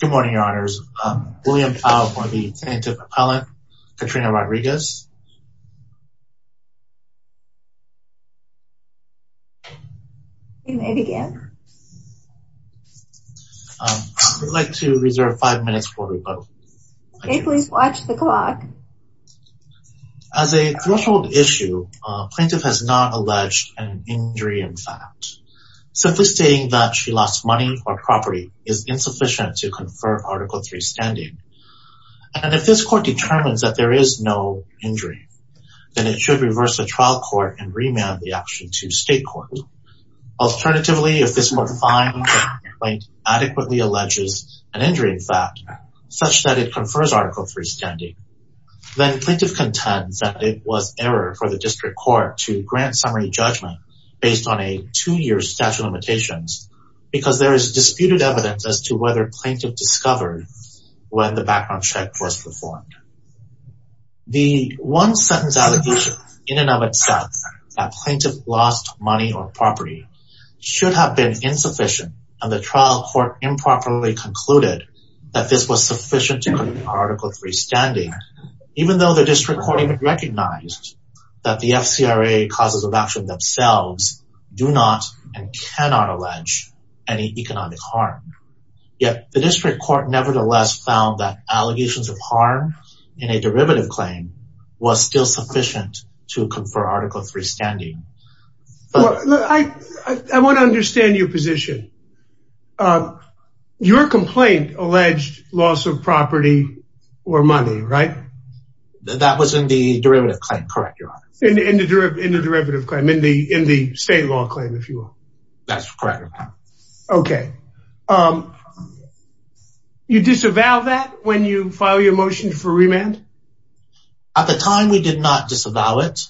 Good morning, your honors. William Tao for the Plaintiff Appellant, Katrina Rodriguez. You may begin. I would like to reserve five minutes before we vote. Okay, please watch the clock. As a threshold issue, plaintiff has not alleged an injury in fact. Simply stating that she lost money or property is insufficient to confer Article III standing. And if this court determines that there is no injury, then it should reverse the trial court and remand the action to state court. Alternatively, if this more fine plaintiff adequately alleges an injury in fact, such that it confers Article III standing, then plaintiff contends that it was error for the district court to grant summary judgment based on a two-year statute of limitations because there is disputed evidence as to whether plaintiff discovered when the background check was performed. The one-sentence allegation in and of itself that plaintiff lost money or property should have been insufficient and the trial court improperly concluded that this was sufficient to confer Article III standing, even though the district court even recognized that the FCRA causes of action themselves do not and cannot allege any economic harm. Yet, the district court nevertheless found that allegations of harm in a derivative claim was still sufficient to confer Article III standing. I want to understand your position. Your complaint alleged loss of property or money, right? That was in the derivative claim, correct, Your Honor. In the derivative claim, in the state law claim, if you will. That's correct, Your Honor. Okay. You disavow that when you file your motion for remand? At the time, we did not disavow it.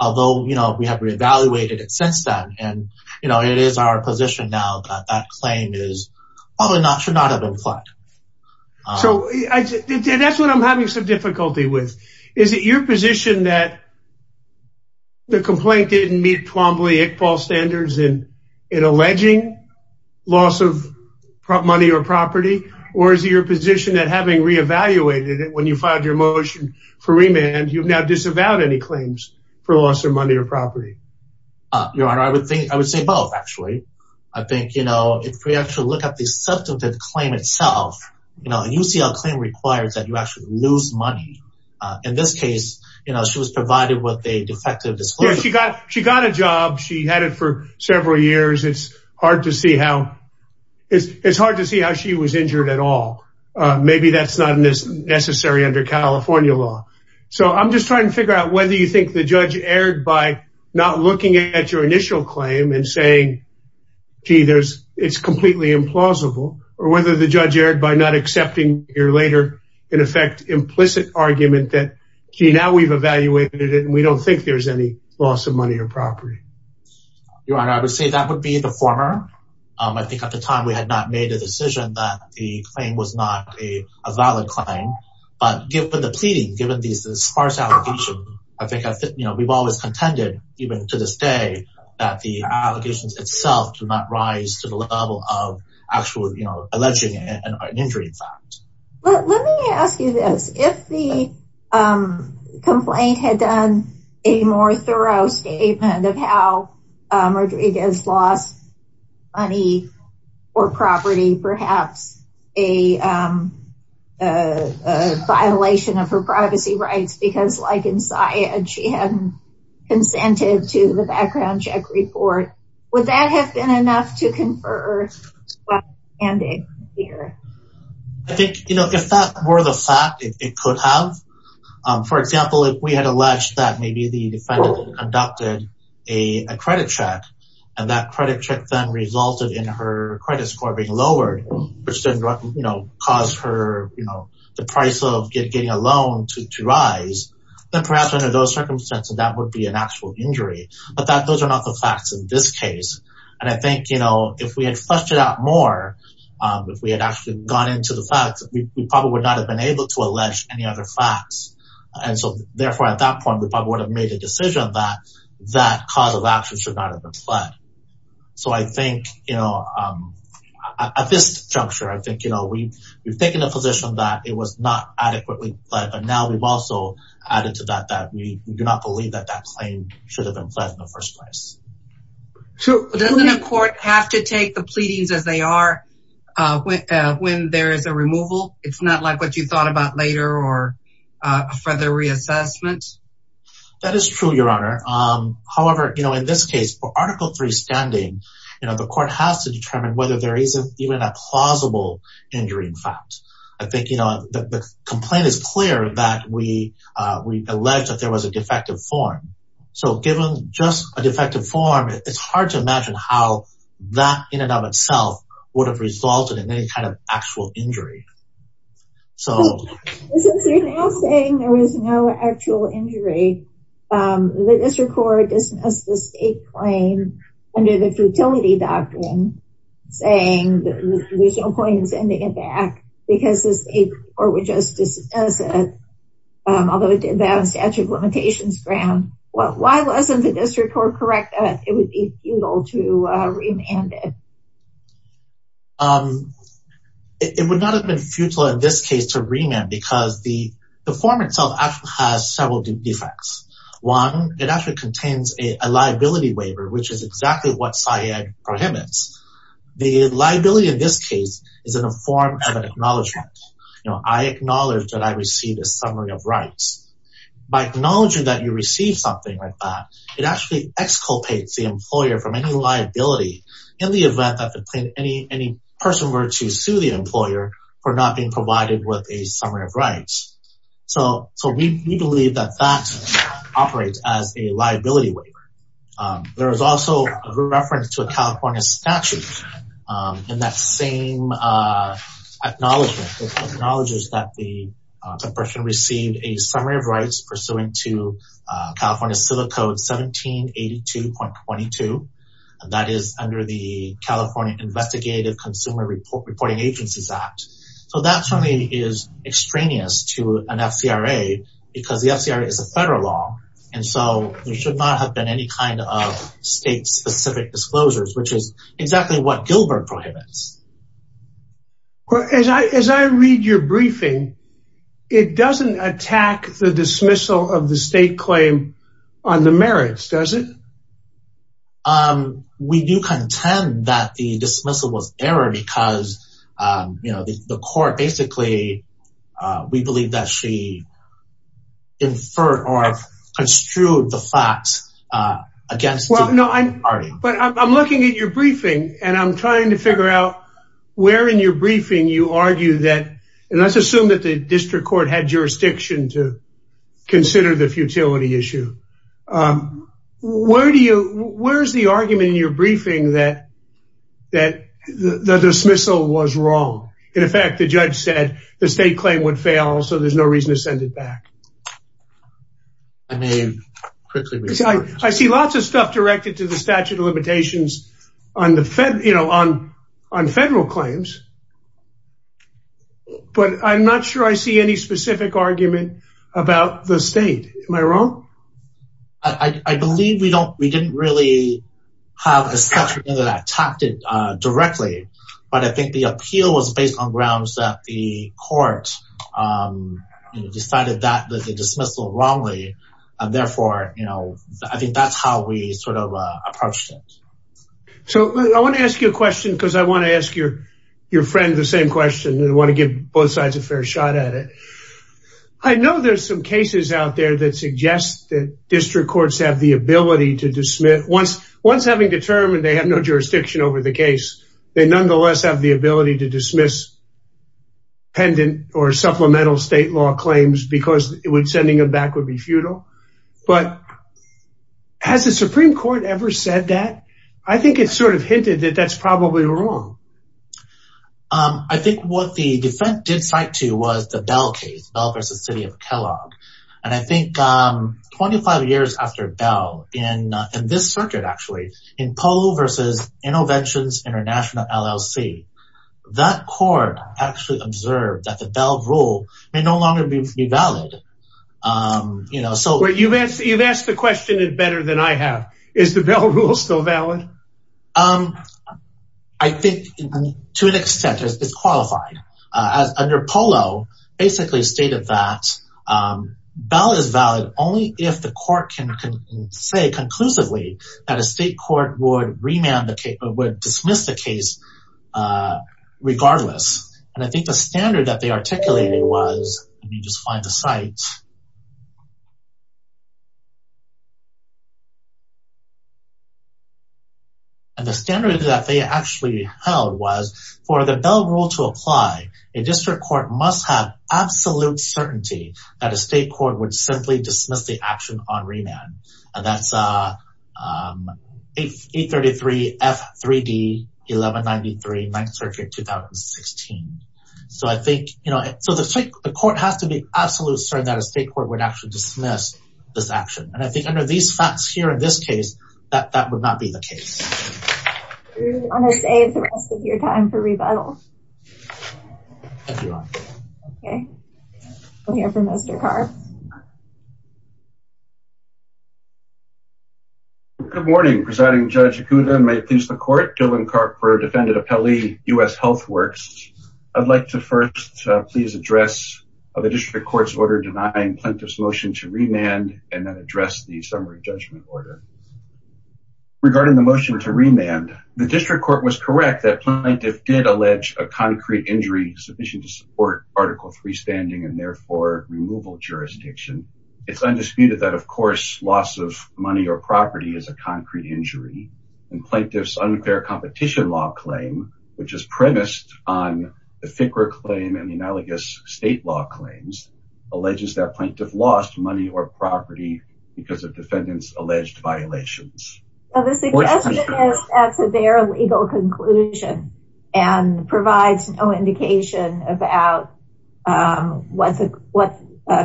Although, you know, we have re-evaluated it since then. And, you know, it is our position now that that claim should not have been filed. So, that's what I'm having some difficulty with. Is it your position that the complaint didn't meet Iqbal standards in alleging loss of money or property? Or is it your position that having re-evaluated it when you filed your motion for remand, you've now disavowed any claims for loss of money or property? Your Honor, I would say both, actually. I think, you know, if we actually look at the substantive claim itself, you know, a UCL claim requires that you actually lose money. In this case, you know, she was provided with a defective disclosure. Yeah, she got a job. She had it for several years. It's hard to see how she was injured at all. Maybe that's not necessary under California law. So, I'm just trying to figure out whether you think the judge erred by not looking at your initial claim and saying, gee, it's completely implausible. Or whether the judge erred by not accepting your later, in effect, implicit argument that, gee, now we've evaluated it and we don't think there's any loss of money or property. Your Honor, I would say that would be the former. I think at the time we had not made a decision that the claim was not a valid claim. But given the pleading, given the sparse allegation, I think we've always contended, even to this day, that the allegations itself do not rise to the level of actual alleging an injury in fact. Let me ask you this. If the complaint had done a more thorough statement of how Rodriguez lost money or property, perhaps a violation of her privacy rights because, like in Syed, she hadn't consented to the background check report, would that have been enough to confer what's standing here? I think if that were the fact, it could have. For example, if we had alleged that maybe the defendant had conducted a credit check and that credit check then resulted in her credit score being lowered, which then caused the price of getting a loan to rise, then perhaps under those circumstances that would be an actual injury. But those are not the facts in this case. And I think if we had fleshed it out more, if we had actually gone into the facts, we probably would not have been able to allege any other facts. Therefore, at that point, we probably would have made a decision that that cause of action should not have been pled. So I think at this juncture, we've taken a position that it was not adequately pled, but now we've also added to that that we do not believe that that claim should have been pled in the first place. Doesn't a court have to take the pleadings as they are when there is a removal? It's not like what you thought about later or a further reassessment? That is true, Your Honor. However, in this case, for Article III standing, the court has to determine whether there is even a plausible injury in fact. I think the complaint is clear that we allege that there was a defective form. So given just a defective form, it's hard to imagine how that in and of itself would have resulted in any kind of actual injury. Since you're now saying there was no actual injury, the district court dismissed the state claim under the futility doctrine, saying there's no point in sending it back because the state court would just dismiss it, although it did that on statute of limitations ground. Why wasn't the district court correct that it would be futile to remand it? It would not have been futile in this case to remand because the form itself actually has several defects. One, it actually contains a liability waiver, which is exactly what SIAD prohibits. The liability in this case is in the form of an acknowledgement. I acknowledge that I received a summary of rights. By acknowledging that you received something like that, it actually exculpates the employer from any liability in the event that any person were to sue the employer for not being provided with a summary of rights. So we believe that that operates as a liability waiver. There is also a reference to a California statute in that same acknowledgement. It acknowledges that the person received a summary of rights pursuant to California Civil Code 1782.22. That is under the California Investigative Consumer Reporting Agencies Act. So that certainly is extraneous to an FCRA because the FCRA is a federal law. And so there should not have been any kind of state-specific disclosures, which is exactly what Gilbert prohibits. As I read your briefing, it doesn't attack the dismissal of the state claim on the merits, does it? We do contend that the dismissal was error because the court basically, we believe that she inferred or construed the facts against the party. But I'm looking at your briefing and I'm trying to figure out where in your briefing you argue that, and let's assume that the district court had jurisdiction to consider the futility issue. Where is the argument in your briefing that the dismissal was wrong? In effect, the judge said the state claim would fail, so there's no reason to send it back. I see lots of stuff directed to the statute of limitations on federal claims. But I'm not sure I see any specific argument about the state. Am I wrong? I believe we didn't really have a statute that attacked it directly. But I think the appeal was based on grounds that the court decided that the dismissal wrongly. And therefore, I think that's how we sort of approached it. So I want to ask you a question because I want to ask your friend the same question. I want to give both sides a fair shot at it. I know there's some cases out there that suggest that district courts have the ability to dismiss. Once having determined they have no jurisdiction over the case, they nonetheless have the ability to dismiss pendant or supplemental state law claims because sending them back would be futile. But has the Supreme Court ever said that? I think it sort of hinted that that's probably wrong. I think what the defense did cite to was the Bell case, Bell v. City of Kellogg. And I think 25 years after Bell, in this circuit actually, in Polo v. Interventions International LLC, that court actually observed that the Bell rule may no longer be valid. You've asked the question better than I have. Is the Bell rule still valid? I think to an extent it's qualified. As under Polo, basically stated that Bell is valid only if the court can say conclusively that a state court would dismiss the case regardless. And I think the standard that they articulated was, let me just find the site. And the standard that they actually held was for the Bell rule to apply, a district court must have absolute certainty that a state court would simply dismiss the action on remand. And that's 833 F3D 1193 9th Circuit 2016. So I think, you know, so the court has to be absolute certain that it's valid. And that a state court would actually dismiss this action. And I think under these facts here in this case, that would not be the case. Do you want to save the rest of your time for rebuttal? I do. Okay. We'll hear from Mr. Karp. Good morning, Presiding Judge Ikuda, and may it please the Court. Dylan Karp for Defendant Appellee, U.S. Health Works. I'd like to first please address the district court's order denying plaintiff's motion to remand and then address the summary judgment order. Regarding the motion to remand, the district court was correct that plaintiff did allege a concrete injury sufficient to support Article III standing and therefore removal jurisdiction. It's undisputed that, of course, loss of money or property is a concrete injury. And plaintiff's unfair competition law claim, which is premised on the FCRA claim and analogous state law claims, alleges that plaintiff lost money or property because of defendant's alleged violations. The suggestion is that's a very legal conclusion and provides no indication about what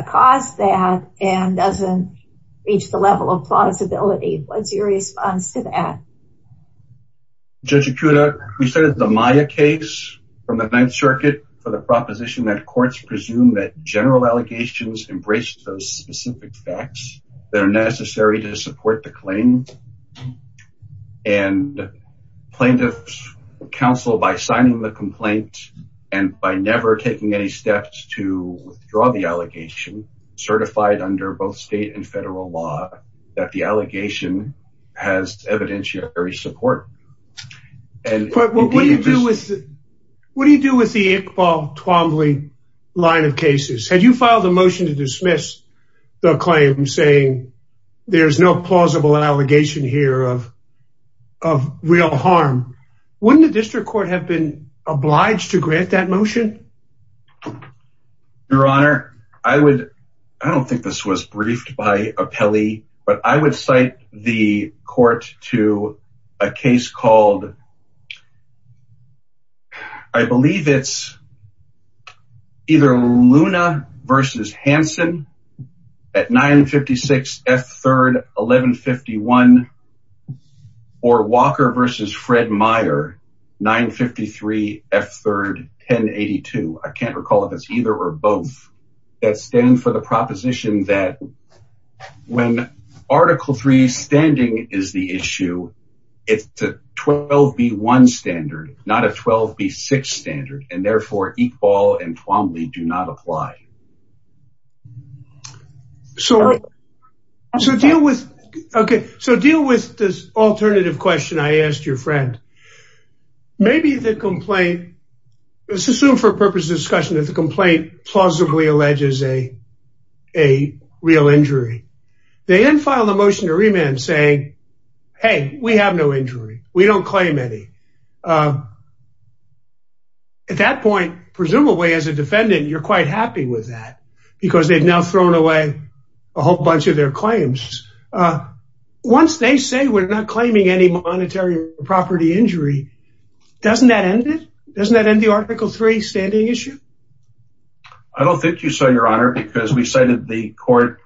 caused that and doesn't reach the level of plausibility. What's your response to that? Judge Ikuda, we cited the Maya case from the Ninth Circuit for the proposition that courts presume that general allegations embrace those specific facts that are necessary to support the claim. And plaintiff's counsel, by signing the complaint and by never taking any steps to withdraw the allegation, certified under both state and federal law, that the allegation has evidentiary support. What do you do with the Iqbal Twombly line of cases? Had you filed a motion to dismiss the claim saying there's no plausible allegation here of real harm, wouldn't the district court have been obliged to grant that motion? Your Honor, I don't think this was briefed by Appelli, but I would cite the court to a case called, I believe it's either Luna v. Hansen at 956 F. 3rd, 1151 or Walker v. Fred Meyer, 953 F. 3rd, 1082. I can't recall if it's either or both, that stand for the proposition that when Article III standing is the issue, it's a 12B1 standard, not a 12B6 standard, and therefore Iqbal and Twombly do not apply. So deal with this alternative question I asked your friend. Maybe the complaint, let's assume for purpose of discussion, that the complaint plausibly alleges a real injury. They then file a motion to remand saying, hey, we have no injury. We don't claim any. At that point, presumably as a defendant, you're quite happy with that because they've now thrown away a whole bunch of their claims. Once they say we're not claiming any monetary or property injury, doesn't that end it? Doesn't that end the Article III standing issue? I don't think so, Your Honor, because we cited the court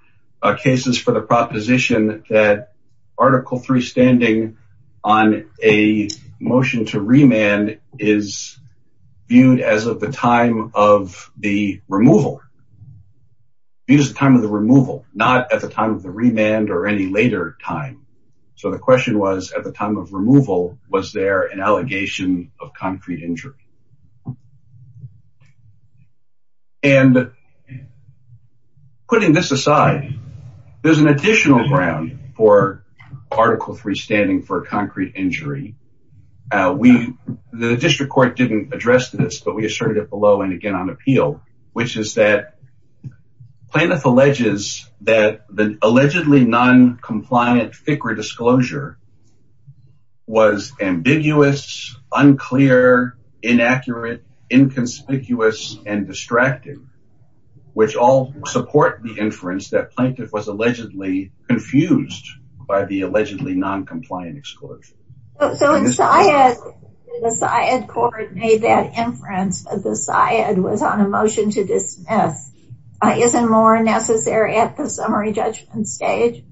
cases for the proposition that Article III standing on a motion to remand is viewed as of the time of the removal, used the time of the removal, not at the time of the remand or any later time. So the question was at the time of removal, was there an allegation of concrete injury? And putting this aside, there's an additional ground for Article III standing for a concrete injury. The district court didn't address this, but we asserted it below and again on appeal, which is that Plaintiff alleges that the allegedly noncompliant FICRA disclosure was ambiguous, unclear, inaccurate, inconspicuous, and distracting, which all support the inference that Plaintiff was allegedly confused by the allegedly noncompliant disclosure. So in Syed, the Syed court made that inference that the Syed was on a motion to dismiss. Isn't more necessary at the summary judgment stage?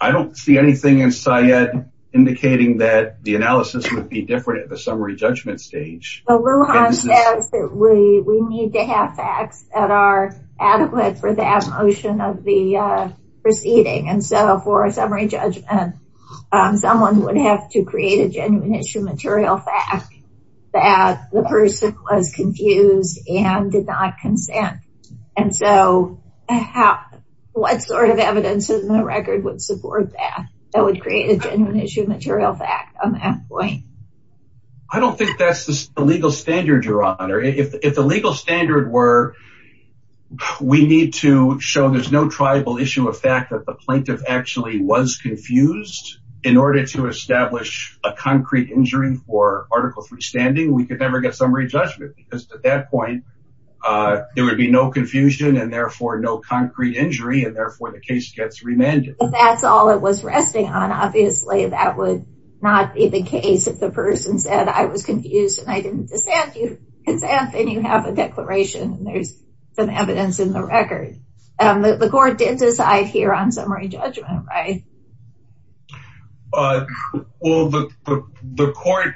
I don't see anything in Syed indicating that the analysis would be different at the summary judgment stage. Lujan says that we need to have facts that are adequate for that motion of the proceeding. And so for a summary judgment, someone would have to create a genuine issue material fact that the person was confused and did not consent. And so what sort of evidence in the record would support that? That would create a genuine issue material fact on that point. I don't think that's the legal standard, Your Honor. If the legal standard were we need to show there's no tribal issue of fact that the Plaintiff actually was confused in order to establish a concrete injury for Article III standing, we could never get summary judgment because at that point there would be no confusion and therefore no concrete injury, and therefore the case gets remanded. If that's all it was resting on, obviously that would not be the case if the person said I was confused and I didn't consent and you have a declaration and there's some evidence in the record. The court did decide here on summary judgment, right? Well, the court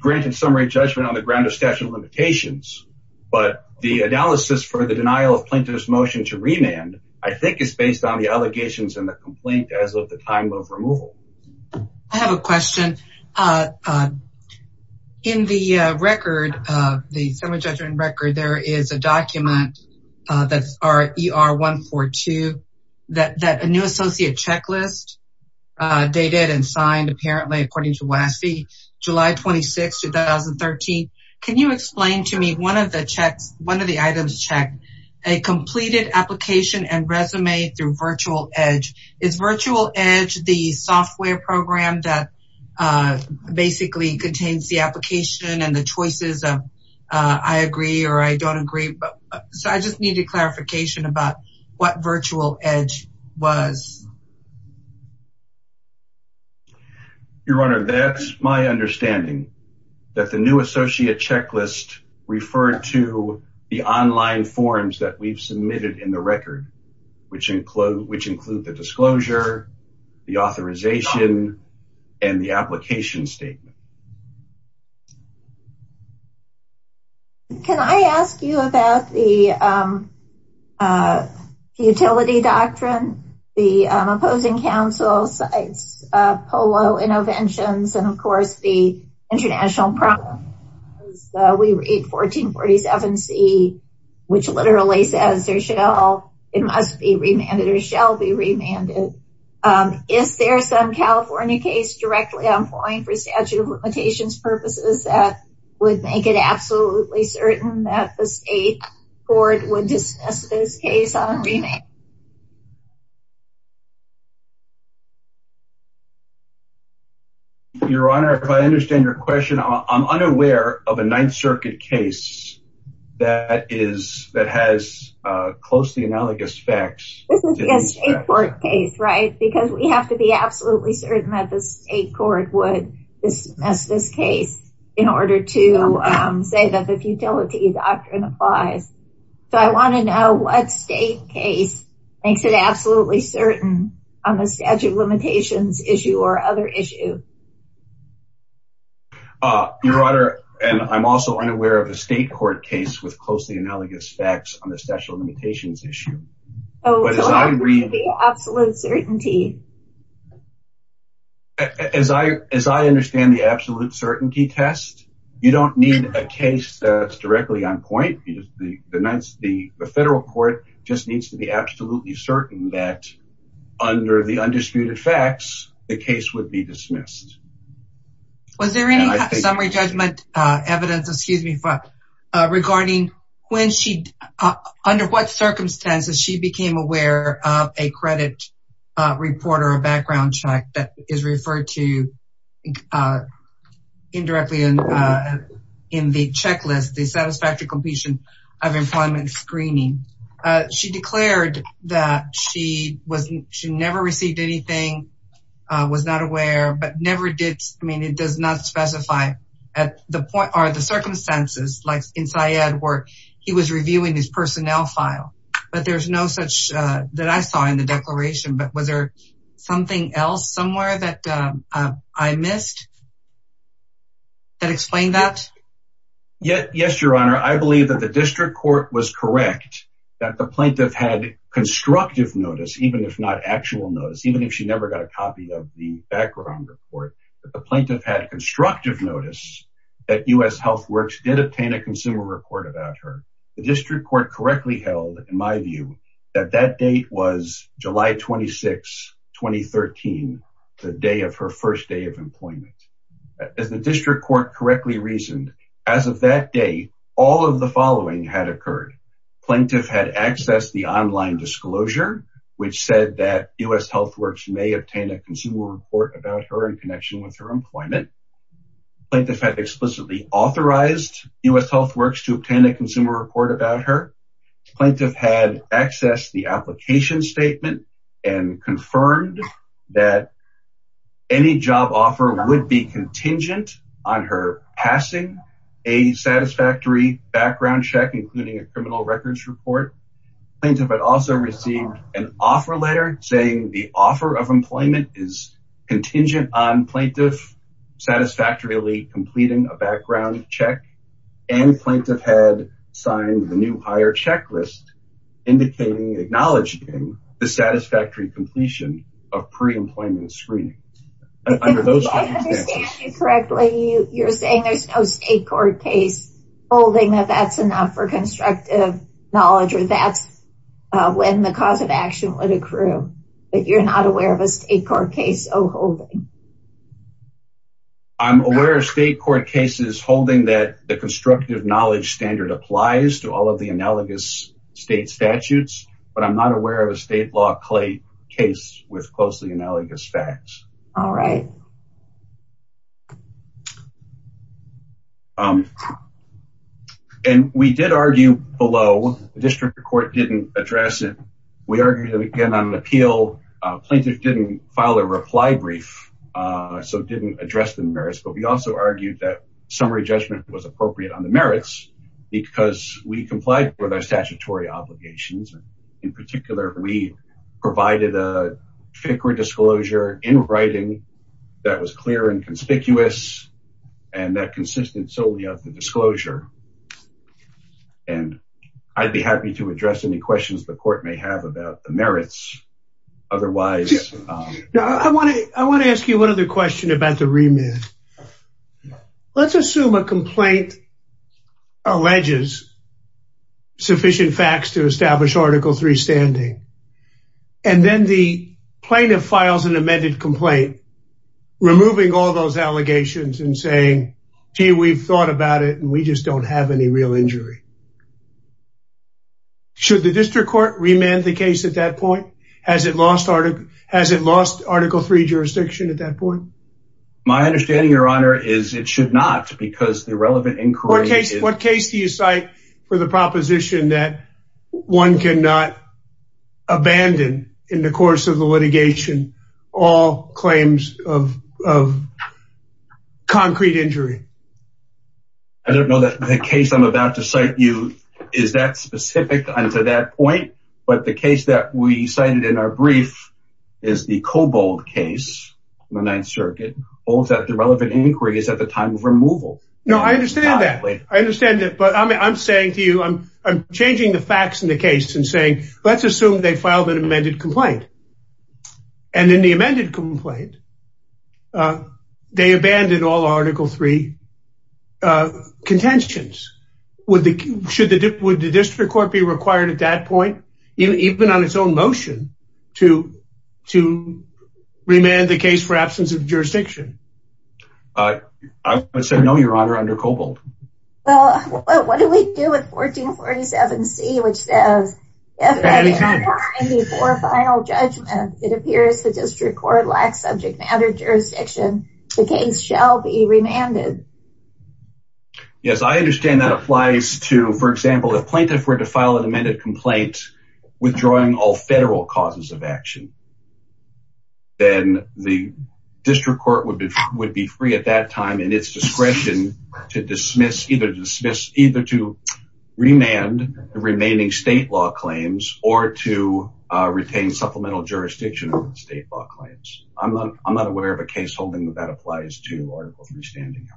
granted summary judgment on the ground of statute of limitations, but the analysis for the denial of plaintiff's motion to remand, I think is based on the allegations and the complaint as of the time of removal. I have a question. In the record, the summary judgment record, there is a document that's RER 142 that a new associate checklist dated and signed apparently according to WASI July 26, 2013. Can you explain to me one of the checks, one of the items checked, a completed application and resume through virtual edge is virtual edge, the software program that basically contains the application and the choices of I agree or I don't agree. So I just needed clarification about what virtual edge was. Your Honor, that's my understanding that the new associate checklist referred to the online forms that we've submitted in the record, which include, which include the disclosure, the authorization and the application statement. Can I ask you about the utility doctrine, the opposing counsel sites, polo interventions, and of course the international problem. We read 1447 C which literally says there should all, it must be remanded or shall be remanded. Is there some California case directly on point for statute of limitations purposes that would make it absolutely certain that the state court would dismiss this case on remand? Your Honor, if I understand your question, I'm unaware of a ninth circuit case that is, that has a closely analogous facts court case, right? Because we have to be absolutely certain that the state court would dismiss this case in order to say that the futility doctrine applies. So I want to know what state case makes it absolutely certain on the statute of limitations issue or other issue. Your Honor. And I'm also unaware of a state court case with closely analogous facts on the statute of limitations issue. Oh, as I, as I understand the absolute certainty test, you don't need a case that's directly on point. You just, the, the nights, the federal court just needs to be absolutely certain that under the undisputed facts, the case would be dismissed. Was there any summary judgment evidence, excuse me, regarding when she, under what circumstances, she became aware of a credit report or a background check that is referred to indirectly in the checklist, the satisfactory completion of employment screening. She declared that she was, she never received anything, was not aware, but never did. I mean, it does not specify at the point are the circumstances like inside where he was reviewing his personnel file, but there's no such that I saw in the declaration, but was there something else somewhere that I missed that explained that yet? Yes, Your Honor. I believe that the district court was correct that the plaintiff had constructive notice, even if not actual notice, even if she never got a copy of the background report, but the plaintiff had constructive notice that U.S. health works did obtain a consumer report about her. The district court correctly held in my view that that date was July 26, 2013, the day of her first day of employment. As the district court correctly reasoned as of that day, all of the following had occurred. Plaintiff had accessed the online disclosure, which said that U.S. health works may obtain a consumer report about her in connection with her employment. Plaintiff had explicitly authorized U.S. health works to obtain a consumer report about her. Plaintiff had access the application statement and confirmed that any job offer would be contingent on her passing a satisfactory background check, including a criminal records report. Plaintiff had also received an offer letter saying the offer of employment is contingent on plaintiff satisfactorily completing a background check and plaintiff had signed the new higher checklist indicating, acknowledging the satisfactory completion of pre-employment screening. I understand you correctly. You're saying there's no state court case holding that that's enough for when the cause of action would accrue, but you're not aware of a state court case or holding. I'm aware of state court cases holding that the constructive knowledge standard applies to all of the analogous state statutes, but I'm not aware of a state law clay case with closely analogous facts. All right. Thank you. And we did argue below the district court didn't address it. We argued that we can on an appeal plaintiff didn't file a reply brief. So it didn't address the merits, but we also argued that summary judgment was appropriate on the merits because we complied with our statutory obligations. In particular, we provided a FICRA disclosure in writing that was clear and conspicuous and that consistent solely of the disclosure. And I'd be happy to address any questions the court may have about the merits. Otherwise, I want to, I want to ask you one other question about the remit. Let's assume a complaint alleges sufficient facts to establish article three standing. And then the plaintiff files an amended complaint, removing all those allegations and saying, gee, we've thought about it and we just don't have any real injury. Should the district court remand the case at that point? Has it lost article three jurisdiction at that point? My understanding, your honor, is it should not because the relevant inquiry. What case do you cite for the proposition that one can not, abandon in the course of the litigation, all claims of concrete injury? I don't know that the case I'm about to cite you, is that specific on to that point, but the case that we cited in our brief is the Kobold case, the ninth circuit holds that the relevant inquiry is at the time of removal. No, I understand that. I understand that. But I'm saying to you, I'm changing the facts in the case and saying, let's assume they filed an amended complaint. And in the amended complaint, they abandoned all article three contentions. Should the district court be required at that point, even on its own motion to remand the case for absence of jurisdiction? I would say no, your honor, under Kobold. Well, what do we do with 1447 C, which says. Before final judgment, it appears the district court lacks subject matter jurisdiction. The case shall be remanded. Yes, I understand that applies to, for example, the plaintiff were to file an amended complaint, withdrawing all federal causes of action. Then the district court would be, would be free at that time and it's discretion to dismiss, either dismiss, either to remand the remaining state law claims or to retain supplemental jurisdiction on state law claims. I'm not, I'm not aware of a case holding that that applies to article three standing.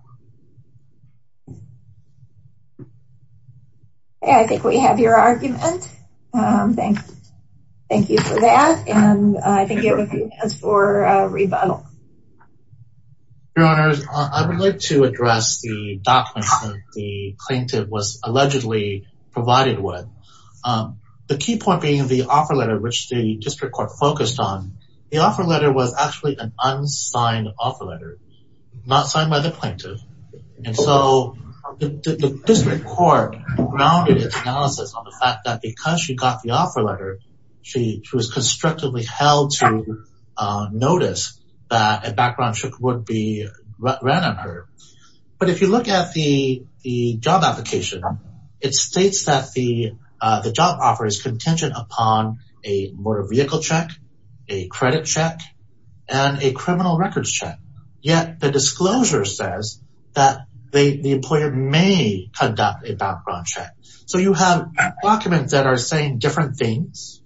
Hey, I think we have your argument. Um, thanks. Thank you for that. And I think you have a few minutes for a rebuttal. Your honors, I would like to address the documents that the plaintiff was allegedly provided with. Um, the key point being the offer letter, which the district court focused on the offer letter was actually an unsigned offer letter, not signed by the plaintiff. And so the district court grounded its analysis on the fact that because she got the offer letter, She was constructively held to notice that a background check would be ran on her. But if you look at the, the job application, it states that the, uh, the job offer is contingent upon a motor vehicle check, a credit check, and a criminal records check. Yet the disclosure says that they, the employer may conduct a background check. So you have documents that are saying different things,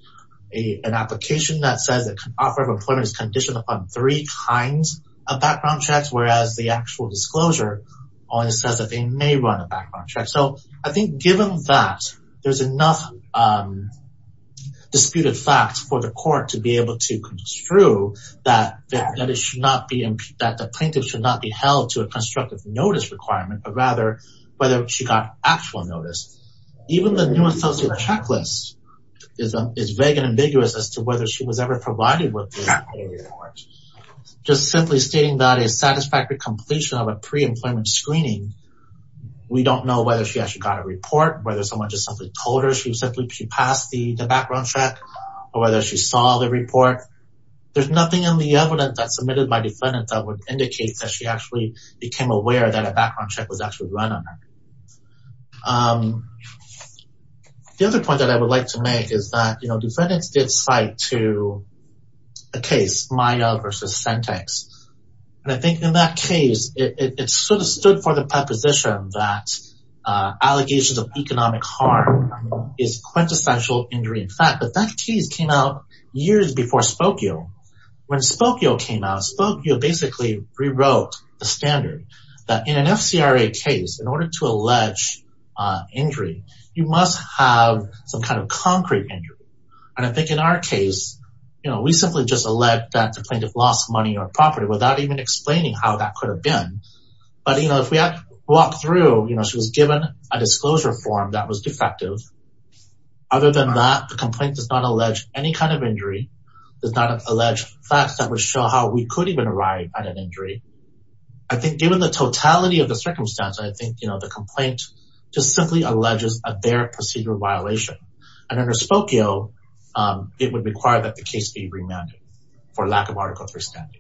a, an application that says that can offer of employment is conditioned upon three kinds of background checks. Whereas the actual disclosure says that they may run a background check. So I think given that there's enough, um, disputed facts for the court to be able to construe that, that it should not be that the plaintiff should not be held to a constructive notice requirement, but rather whether she got actual notice. Even the new associate checklist is, is vague and ambiguous as to whether she was ever provided with just simply stating that a satisfactory completion of a pre-employment screening. We don't know whether she actually got a report, whether someone just simply told her she was simply, she passed the background check or whether she saw the report. There's nothing in the evidence that's submitted by defendant that would indicate that she actually became aware that a background check was actually run on her. Um, the other point that I would like to make is that, you know, defendants did cite to a case Maya versus Sentex. And I think in that case, it sort of stood for the preposition that, uh, allegations of economic harm is quintessential injury in fact, but that case came out years before Spokio. When Spokio came out, Spokio basically rewrote the standard that in an FCRA case, in order to allege, uh, injury, you must have some kind of concrete injury. And I think in our case, you know, we simply just elect that the plaintiff lost money or property without even explaining how that could have been. But, you know, if we walk through, you know, she was given a disclosure form that was defective. Other than that, the complaint does not allege any kind of injury. There's not an alleged facts that would show how we could even arrive at an injury. I think given the totality of the circumstance, I think, you know, the complaint just simply alleges a bare procedure violation. And under Spokio, um, it would require that the case be remanded for lack of article three standard.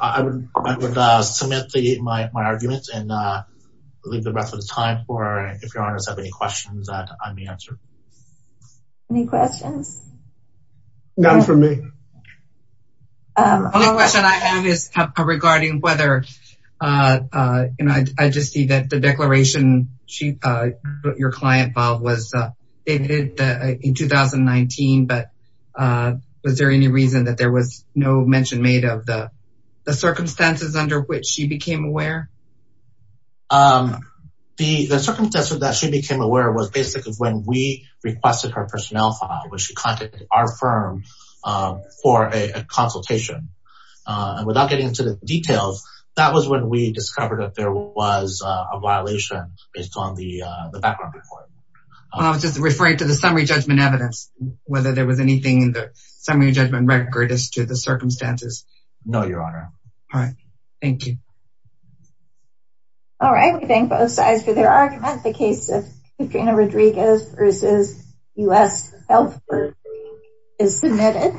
I would, I would, uh, submit the, my, my arguments and, uh, leave the rest of the time for, if you're honest, have any questions that I may answer. Any questions? None for me. Um, another question I have is regarding whether, uh, uh, you know, I just see that the declaration, she, uh, your client Bob was, uh, in 2019, but, uh, was there any reason that there was no mention made of the, the circumstances under which she became aware? Um, the, the circumstances that she became aware of was basically when we requested her personnel file, which she contacted our firm, uh, for a consultation, uh, and without getting into the details, that was when we discovered that there was a violation based on the, uh, the background report. I was just referring to the summary judgment evidence, whether there was anything in the summary judgment record as to the circumstances. No, your honor. All right. Thank you. All right. We thank both sides for their argument. The case of Katrina Rodriguez versus us. Health is submitted.